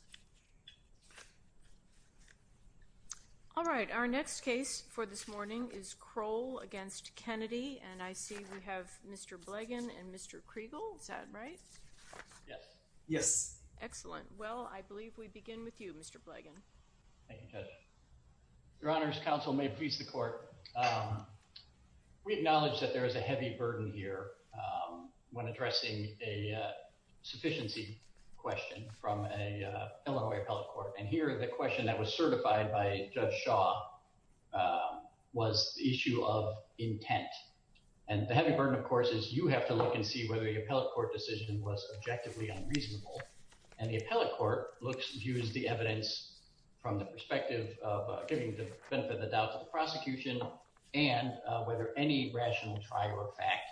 Mr. Krol v. Kennedy Mr. Blegin v. Kriegel Mr. Blegin Your Honor's counsel may please the court. We acknowledge that there is a heavy burden here when addressing a sufficiency question from a Illinois appellate court and here the question that was certified by Judge Shaw was the issue of intent and the heavy burden of course is you have to look and see whether the appellate court decision was objectively unreasonable and the appellate court looks views the evidence from the perspective of giving the benefit of the doubt to the prosecution and whether any rational trial or fact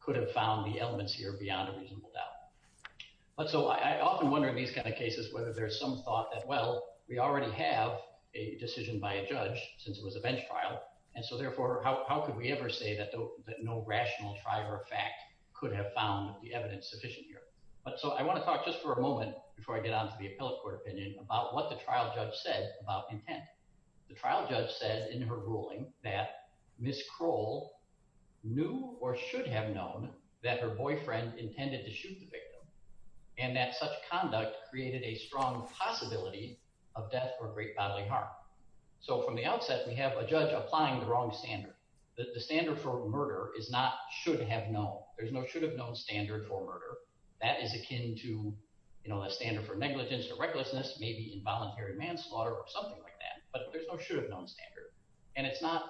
could have found the elements here beyond a reasonable doubt. But so I often wonder in these kind of cases whether there's some thought that well we already have a decision by a judge since it was a bench trial and so therefore how could we ever say that no rational trial or fact could have found the evidence sufficient here. So I want to talk just for a moment before I get on to the appellate court opinion about what the trial judge said about intent. The trial judge says in her ruling that Ms. Krol knew or should have known that her boyfriend intended to shoot the victim and that such conduct created a strong possibility of death or great bodily harm. So from the outset we have a judge applying the wrong standard. The standard for murder is not should have known there's no should have known standard for murder. That is akin to a standard for negligence or recklessness maybe involuntary manslaughter or something like that but there's no should have known standard and it's not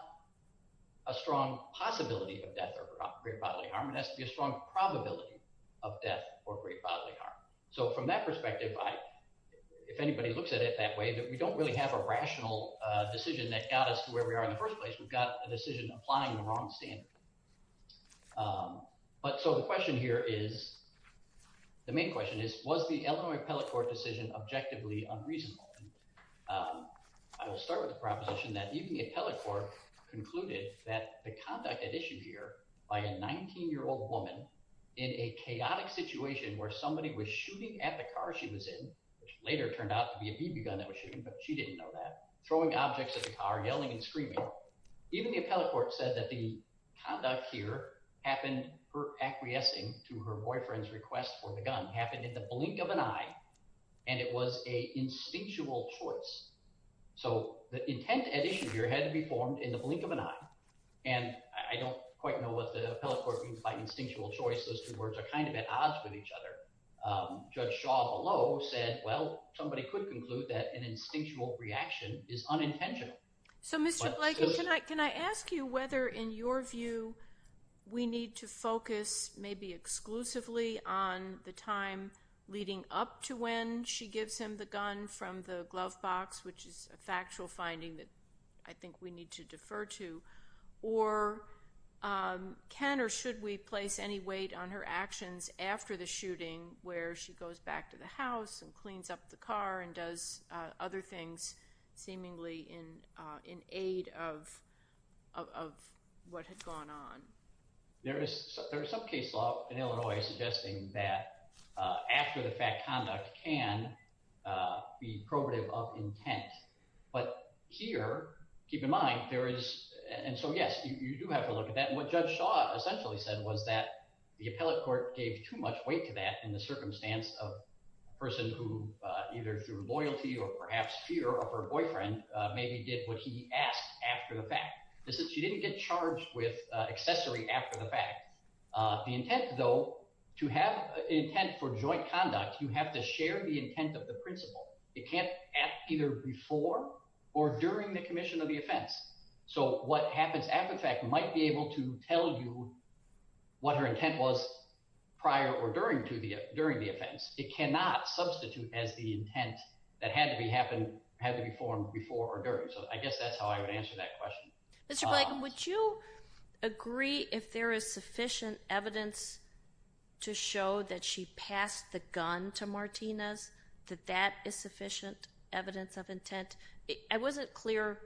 a strong possibility of death or great bodily harm it has to be a strong probability of death or great bodily harm. So from that perspective if anybody looks at it that way that we don't really have a rational decision that got us to where we are in the first place we've got a decision applying the wrong standard. But so the question here is the main question is was the Illinois appellate court decision objectively unreasonable. I will start with the proposition that even the appellate court concluded that the conduct had issued here by a 19 year old woman in a chaotic situation where somebody was shooting at the car she was in which later turned out to be a BB gun that was shooting but she didn't know that throwing objects at the car yelling and screaming. Even the appellate court said that the conduct here happened her acquiescing to her boyfriend's request for the gun happened in the blink of an eye and it was a instinctual choice. So the intent at issue here had to be formed in the blink of an eye and I don't quite know what the appellate court means by instinctual choice those two words are kind of at odds with each other. Judge Shaw below said well somebody could conclude that an instinctual reaction is unintentional. So Mr. Blake can I ask you whether in your view we need to focus maybe exclusively on the time leading up to when she gives him the gun from the glove box which is a factual finding that I think we need to defer to or can or should we place any weight on her actions after the shooting where she goes back to the house and cleans up the car and does other things seemingly in aid of what had gone on? There is some case law in Illinois suggesting that after the fact conduct can be probative of intent but here keep in mind there is and so yes you do have to look at that and what Judge Shaw essentially said was that the appellate court gave too much weight to that in the of her boyfriend maybe did what he asked after the fact. She didn't get charged with accessory after the fact. The intent though to have intent for joint conduct you have to share the intent of the principle. It can't act either before or during the commission of the offense. So what happens after the fact might be able to tell you what her intent was prior or during the offense. It cannot substitute as the intent that had to be formed before or during. So I guess that's how I would answer that question. Mr. Blanken would you agree if there is sufficient evidence to show that she passed the gun to Martinez that that is sufficient evidence of intent? I wasn't clear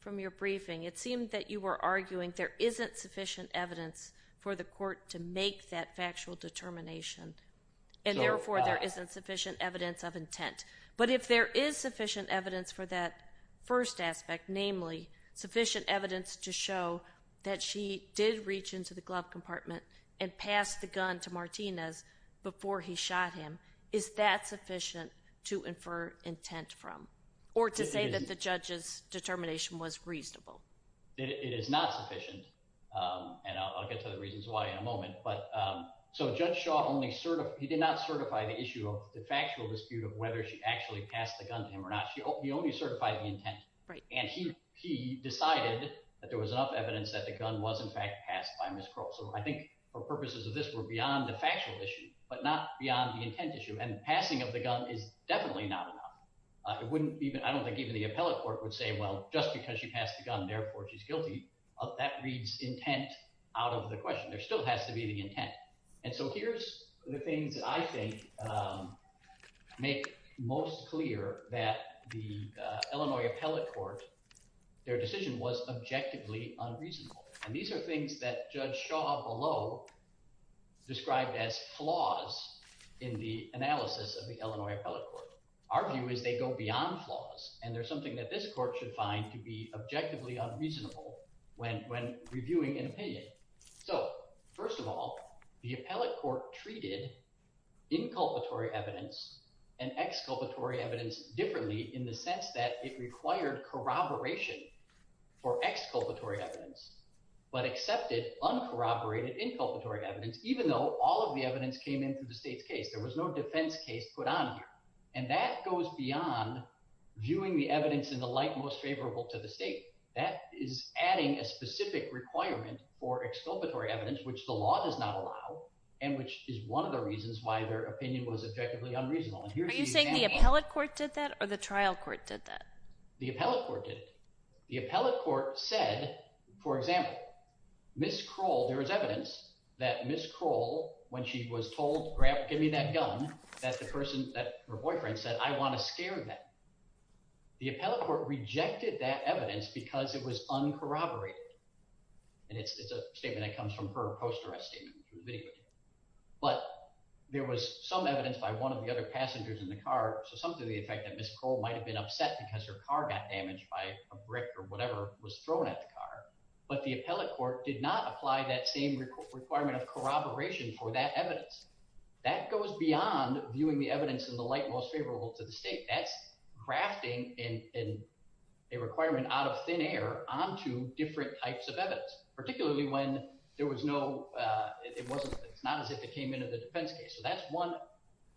from your briefing. It seemed that you were arguing there isn't sufficient evidence for the court to make that factual determination and therefore there isn't sufficient evidence of intent. But if there is sufficient evidence for that first aspect namely sufficient evidence to show that she did reach into the glove compartment and pass the gun to Martinez before he shot him. Is that sufficient to infer intent from or to say that the judge's determination was reasonable? It is not sufficient and I'll get to the reasons why in a moment. So Judge Shaw only certified, he did not certify the issue of the factual dispute of whether she actually passed the gun to him or not. He only certified the intent and he decided that there was enough evidence that the gun was in fact passed by Ms. Crow. So I think for purposes of this were beyond the factual issue but not beyond the intent issue and passing of the gun is definitely not enough. It wouldn't even, I don't think even the appellate court would say well just because she passed the gun therefore she's guilty, that reads intent out of the question. There still has to be the intent. And so here's the things that I think make most clear that the Illinois appellate court, their decision was objectively unreasonable and these are things that Judge Shaw below described as flaws in the analysis of the Illinois appellate court. Our view is they go beyond flaws and there's something that this court should find to be objectively unreasonable when reviewing an opinion. So first of all, the appellate court treated inculpatory evidence and exculpatory evidence differently in the sense that it required corroboration for exculpatory evidence but accepted uncorroborated inculpatory evidence even though all of the evidence came in through the state's case. There was no defense case put on here. And that goes beyond viewing the evidence in the light most favorable to the state. That is adding a specific requirement for exculpatory evidence which the law does not allow and which is one of the reasons why their opinion was objectively unreasonable. Are you saying the appellate court did that or the trial court did that? The appellate court did it. The appellate court said, for example, Ms. Kroll, there is evidence that Ms. Kroll when she was told, give me that gun, that her boyfriend said, I want to scare them. The appellate court rejected that evidence because it was uncorroborated and it's a statement that comes from her post arrest statement. But there was some evidence by one of the other passengers in the car, so some to the effect that Ms. Kroll might have been upset because her car got damaged by a brick or whatever was thrown at the car, but the appellate court did not apply that same requirement of corroboration for that evidence. That goes beyond viewing the evidence in the light most favorable to the state. That's grafting in a requirement out of thin air onto different types of evidence, particularly when there was no, it wasn't, it's not as if it came into the defense case. So that's one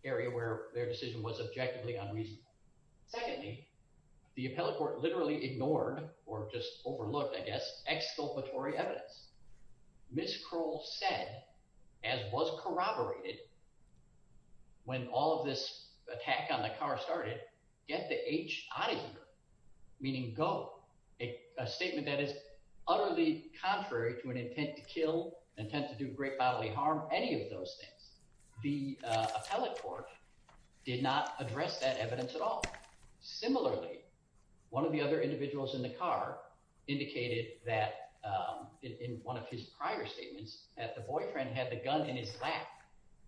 area where their decision was objectively unreasonable. Secondly, the appellate court literally ignored or just overlooked, I guess, exculpatory evidence. Ms. Kroll said, as was corroborated when all of this attack on the car started, get the H out of here, meaning go, a statement that is utterly contrary to an intent to kill, intent to do great bodily harm, any of those things. The appellate court did not address that evidence at all. Similarly, one of the other individuals in the car indicated that in one of his prior statements that the boyfriend had the gun in his lap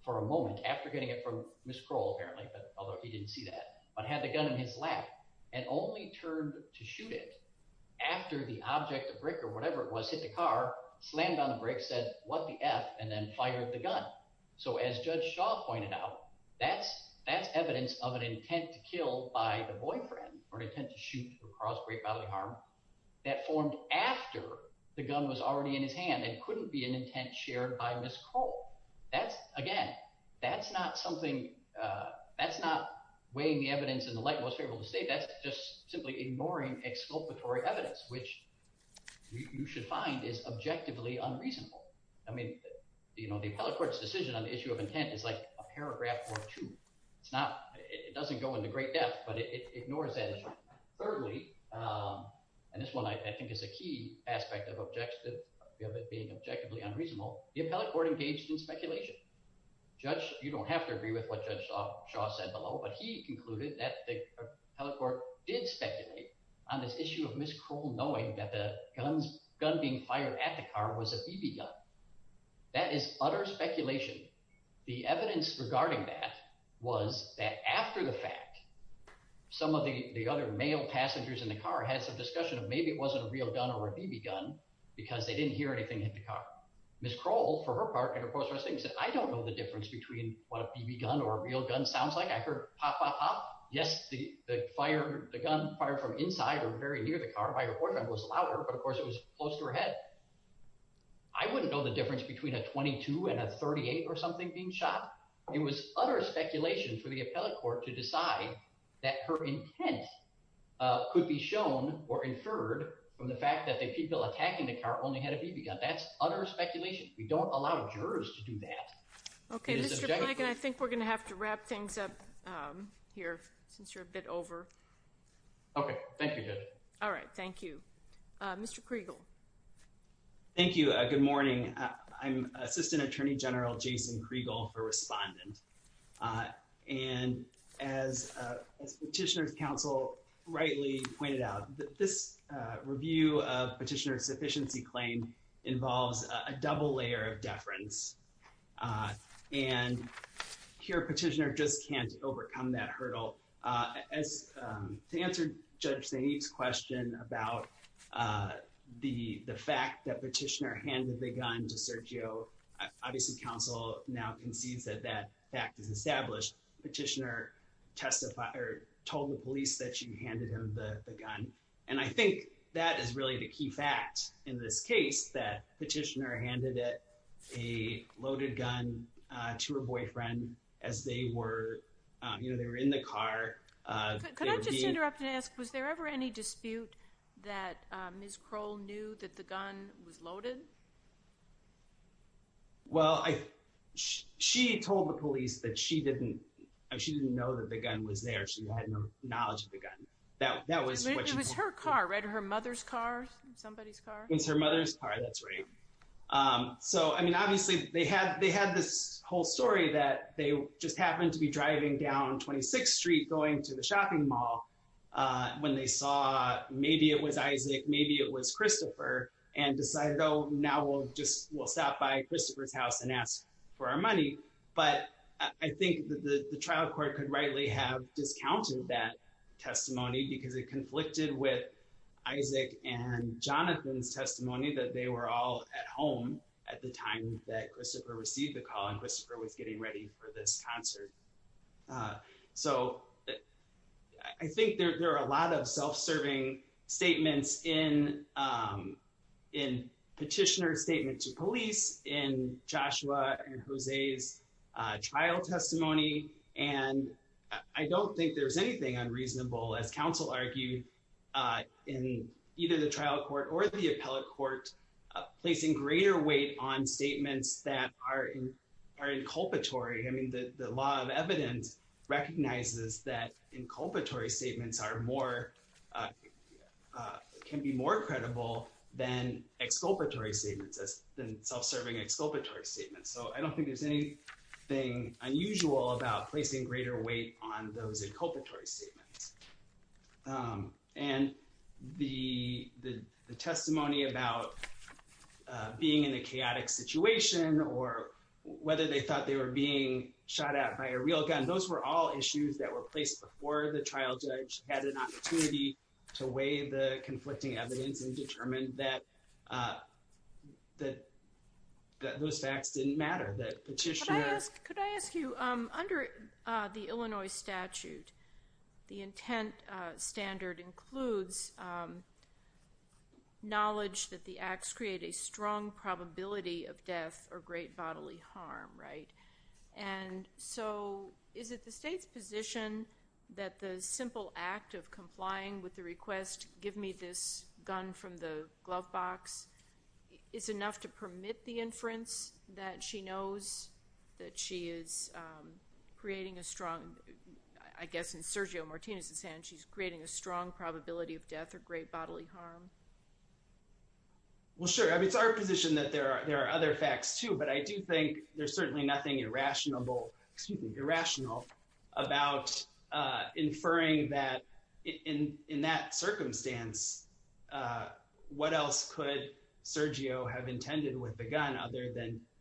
for a moment after getting it from Ms. Kroll, apparently, but although he didn't see that, but had the gun in his lap and only turned to shoot it after the object, the brick or whatever it was, hit the car, slammed on the brick, said, what the F, and then fired the gun. So as Judge Shaw pointed out, that's evidence of an intent to kill by the boyfriend or an intent to shoot or cause great bodily harm that formed after the gun was already in his hand and couldn't be an intent shared by Ms. Kroll. That's, again, that's not weighing the evidence in the light most favorable to state. That's just simply ignoring exculpatory evidence, which you should find is objectively unreasonable. I mean, you know, the appellate court's decision on the issue of intent is like a paragraph or two. It's not, it doesn't go into great depth, but it ignores that. Thirdly, and this one I think is a key aspect of objective, of it being objectively unreasonable, the appellate court engaged in speculation. Judge, you don't have to agree with what Judge Shaw said below, but he concluded that the appellate court did speculate on this issue of Ms. Kroll knowing that the gun being fired at the car was a BB gun. That is utter speculation. The evidence regarding that was that after the fact, some of the other male passengers in the car had some discussion of maybe it wasn't a real gun or a BB gun because they didn't hear anything hit the car. Ms. Kroll, for her part, said, I don't know the difference between what a BB gun or a real gun sounds like. I heard pop, pop, pop. Yes, the gun fired from inside or very near the car by her boyfriend was louder, but of that, I wouldn't know the difference between a 22 and a 38 or something being shot. It was utter speculation for the appellate court to decide that her intent could be shown or inferred from the fact that the people attacking the car only had a BB gun. That's utter speculation. We don't allow jurors to do that. Okay, Mr. Plank, and I think we're going to have to wrap things up here since you're a bit over. Okay, thank you, Judge. All right, thank you. Mr. Kriegel. Thank you. Good morning. I'm Assistant Attorney General Jason Kriegel for Respondent. And as Petitioner's counsel rightly pointed out, this review of Petitioner's sufficiency claim involves a double layer of deference. And here Petitioner just can't overcome that hurdle. As to answer Judge Sainte's question about the fact that Petitioner handed the gun to Sergio, obviously, counsel now concedes that that fact is established. Petitioner testified or told the police that she handed him the gun. And I think that is really the key fact in this case, that Petitioner handed a loaded gun to her boyfriend as they were, you know, they were in the car. Could I just interrupt and ask, was there ever any dispute that Ms. Kroll knew that the gun was loaded? Well, she told the police that she didn't know that the gun was there. She had no knowledge of the gun. It was her car, right? Her mother's car, somebody's car? It was her mother's car, that's right. So, I mean, obviously, they had this whole story that they just happened to be driving down 26th Street going to the shopping mall when they saw maybe it was Isaac, maybe it was Christopher and decided, oh, now we'll just we'll stop by Christopher's house and ask for our money. But I think the trial court could rightly have discounted that testimony because it was at home at the time that Christopher received the call and Christopher was getting ready for this concert. So I think there are a lot of self-serving statements in Petitioner's statement to police, in Joshua and Jose's trial testimony. And I don't think there's anything unreasonable, as counsel argued, in either the trial court or the appellate court placing greater weight on statements that are inculpatory. I mean, the law of evidence recognizes that inculpatory statements are more, can be more credible than exculpatory statements, than self-serving exculpatory statements. So I don't think there's anything unusual about placing greater weight on those inculpatory statements. And the testimony about being in a chaotic situation or whether they thought they were being shot at by a real gun, those were all issues that were placed before the trial judge had an opportunity to weigh the conflicting evidence and determine that those facts didn't matter, that Petitioner— The intent standard includes knowledge that the acts create a strong probability of death or great bodily harm, right? And so is it the state's position that the simple act of complying with the request, give me this gun from the glove box, is enough to permit the inference that she knows that she is creating a strong—I guess in Sergio Martinez's hand, she's creating a strong probability of death or great bodily harm? Well, sure. I mean, it's our position that there are other facts, too, but I do think there's certainly nothing irrational about inferring that in that circumstance, what else could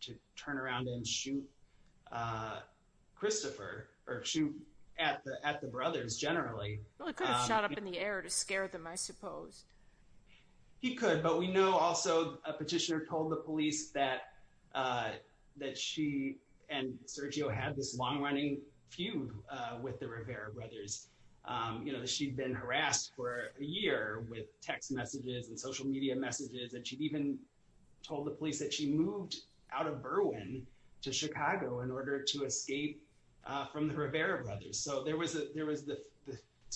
to turn around and shoot Christopher or shoot at the brothers generally? Well, he could have shot up in the air to scare them, I suppose. He could, but we know also a petitioner told the police that she and Sergio had this long-running feud with the Rivera brothers, that she'd been harassed for a year with text messages and social media messages, and she'd even told the police that she moved out of Berwyn to Chicago in order to escape from the Rivera brothers. So there was the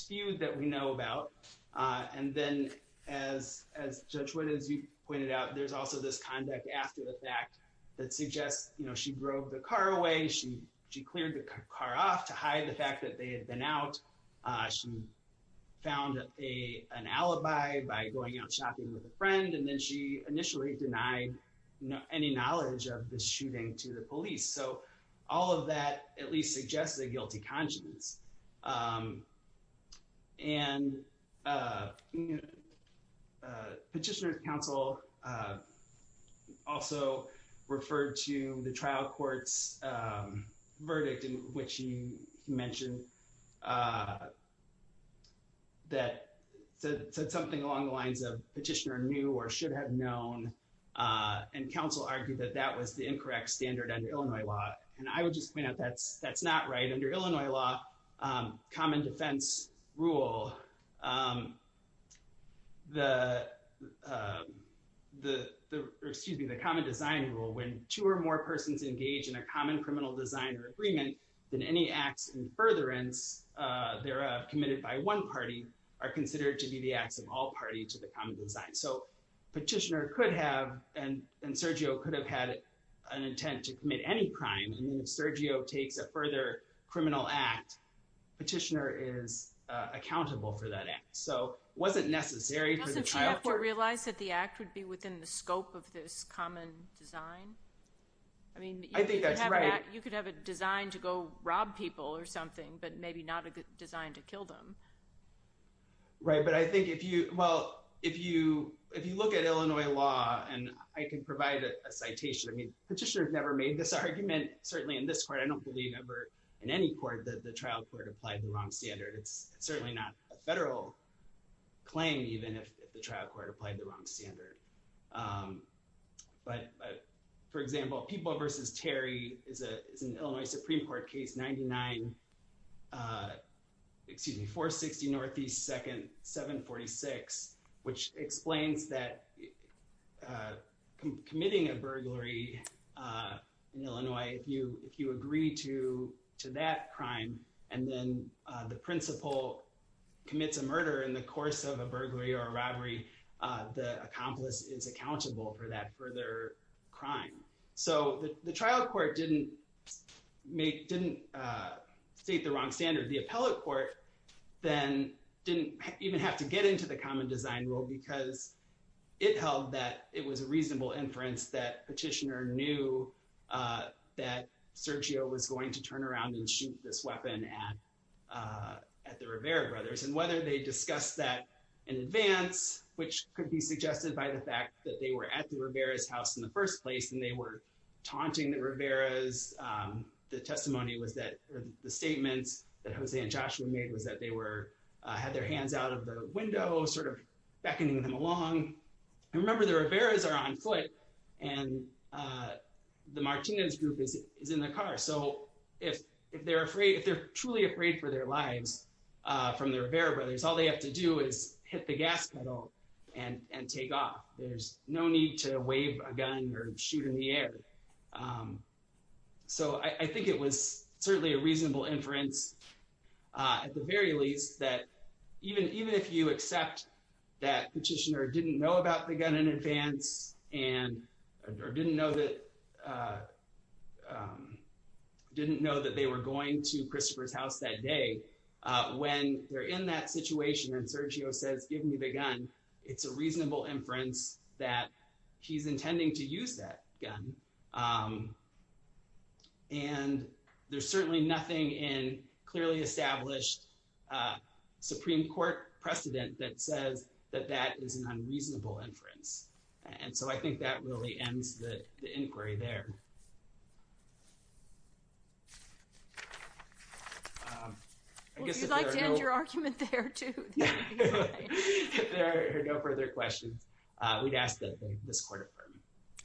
feud that we know about. And then as Judge Wood, as you pointed out, there's also this conduct after the fact that suggests she drove the car away, she cleared the car off to hide the fact that they had been out. She found an alibi by going out shopping with a friend, and then she initially denied any knowledge of the shooting to the police. So all of that at least suggests a guilty conscience. And Petitioner's Counsel also referred to the trial court's verdict in which she mentioned that, said something along the lines of petitioner knew or should have known, and counsel argued that that was the incorrect standard under Illinois law. And I would just point out that's not right. Under Illinois law, common defense rule, the, excuse me, the common design rule, when two or more persons engage in a common criminal design or agreement than any acts in furtherance, they're committed by one party, are considered to be the acts of all party to the common design. So Petitioner could have, and Sergio could have had an intent to commit any crime. I mean, if Sergio takes a further criminal act, Petitioner is accountable for that act. So it wasn't necessary for the trial court- Doesn't she therefore realize that the act would be within the scope of this common design? I mean- I think that's right. You could have a design to go rob people or something, but maybe not a good design to kill them. Right. But I think if you, well, if you, if you look at Illinois law and I can provide a citation, I mean, Petitioner has never made this argument, certainly in this court, I don't believe ever in any court that the trial court applied the wrong standard. It's certainly not a federal claim even if the trial court applied the wrong standard. But for example, People v. Terry is an Illinois Supreme Court case 99, excuse me, 460 Northeast 2nd, 746, which explains that committing a burglary in Illinois, if you, if you agree to that crime, and then the principal commits a murder in the course of a burglary or a is accountable for that further crime. So the trial court didn't make, didn't state the wrong standard. The appellate court then didn't even have to get into the common design rule because it held that it was a reasonable inference that Petitioner knew that Sergio was going to turn around and shoot this weapon at the Rivera brothers. And whether they discussed that in advance, which could be suggested by the fact that they were at the Rivera's house in the first place and they were taunting the Rivera's, the testimony was that the statements that Jose and Joshua made was that they were, had their hands out of the window, sort of beckoning them along. And remember the Rivera's are on foot and the Martinez group is in the car. So if they're afraid, if they're truly afraid for their lives from their Rivera brothers, all they have to do is hit the gas pedal and take off. There's no need to wave a gun or shoot in the air. So I think it was certainly a reasonable inference at the very least that even if you accept that Petitioner didn't know about the gun in advance and, or didn't know that they were going to Christopher's house that day, when they're in that situation and Sergio says, give me the gun, it's a reasonable inference that he's intending to use that gun. And there's certainly nothing in clearly established Supreme Court precedent that says that that is an unreasonable inference. And so I think that really ends the inquiry there. Well, if you'd like to end your argument there too. If there are no further questions, we'd ask that this court affirm.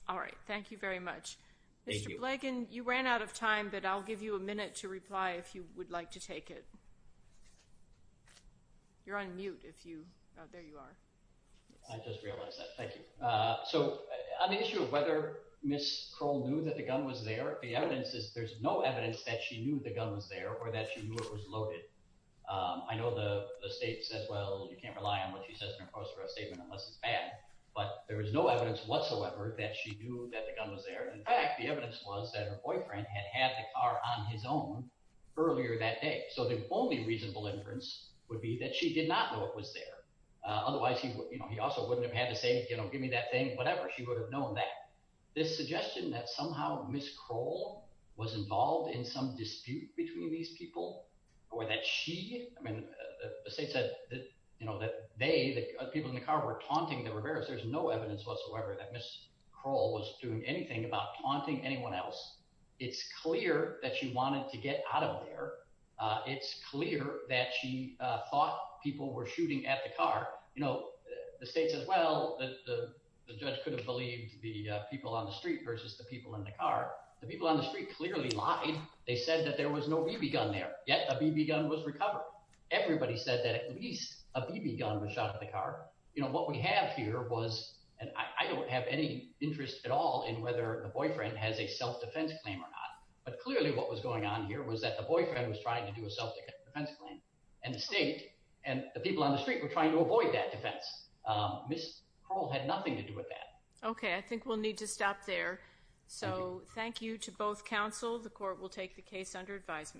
All right. Thank you very much. Mr. Blagan, you ran out of time, but I'll give you a minute to reply if you would like to take it. You're on mute if you, oh, there you are. I just realized that. Thank you. So on the issue of whether Ms. Kroll knew that the gun was there, the evidence is there's no evidence that she knew the gun was there or that she knew it was loaded. I know the state says, well, you can't rely on what she says in her post for a statement unless it's bad, but there was no evidence whatsoever that she knew that the gun was there. In fact, the evidence was that her boyfriend had had the car on his own earlier that day. So the only reasonable inference would be that she did not know it was there. Otherwise he would, you know, he also wouldn't have had to say, you know, give me that thing, whatever. She would have known that. This suggestion that somehow Ms. Kroll was involved in some dispute between these people or that she, I mean, the state said that, you know, that they, the people in the car were taunting the Riveras. There's no evidence whatsoever that Ms. Kroll was doing anything about taunting anyone else. It's clear that she wanted to get out of there. It's clear that she thought people were shooting at the car. You know, the state says, well, the judge could have believed the people on the street versus the people in the car. The people on the street clearly lied. They said that there was no BB gun there. Yet a BB gun was recovered. Everybody said that at least a BB gun was shot at the car. You know, what we have here was, and I don't have any interest at all in whether the boyfriend has a self-defense claim or not, but clearly what was going on here was that the boyfriend was trying to do a self-defense claim and the state and the people on the street were trying to avoid that defense. Ms. Kroll had nothing to do with that. Okay. I think we'll need to stop there. So thank you to both counsel. The court will take the case under advisement.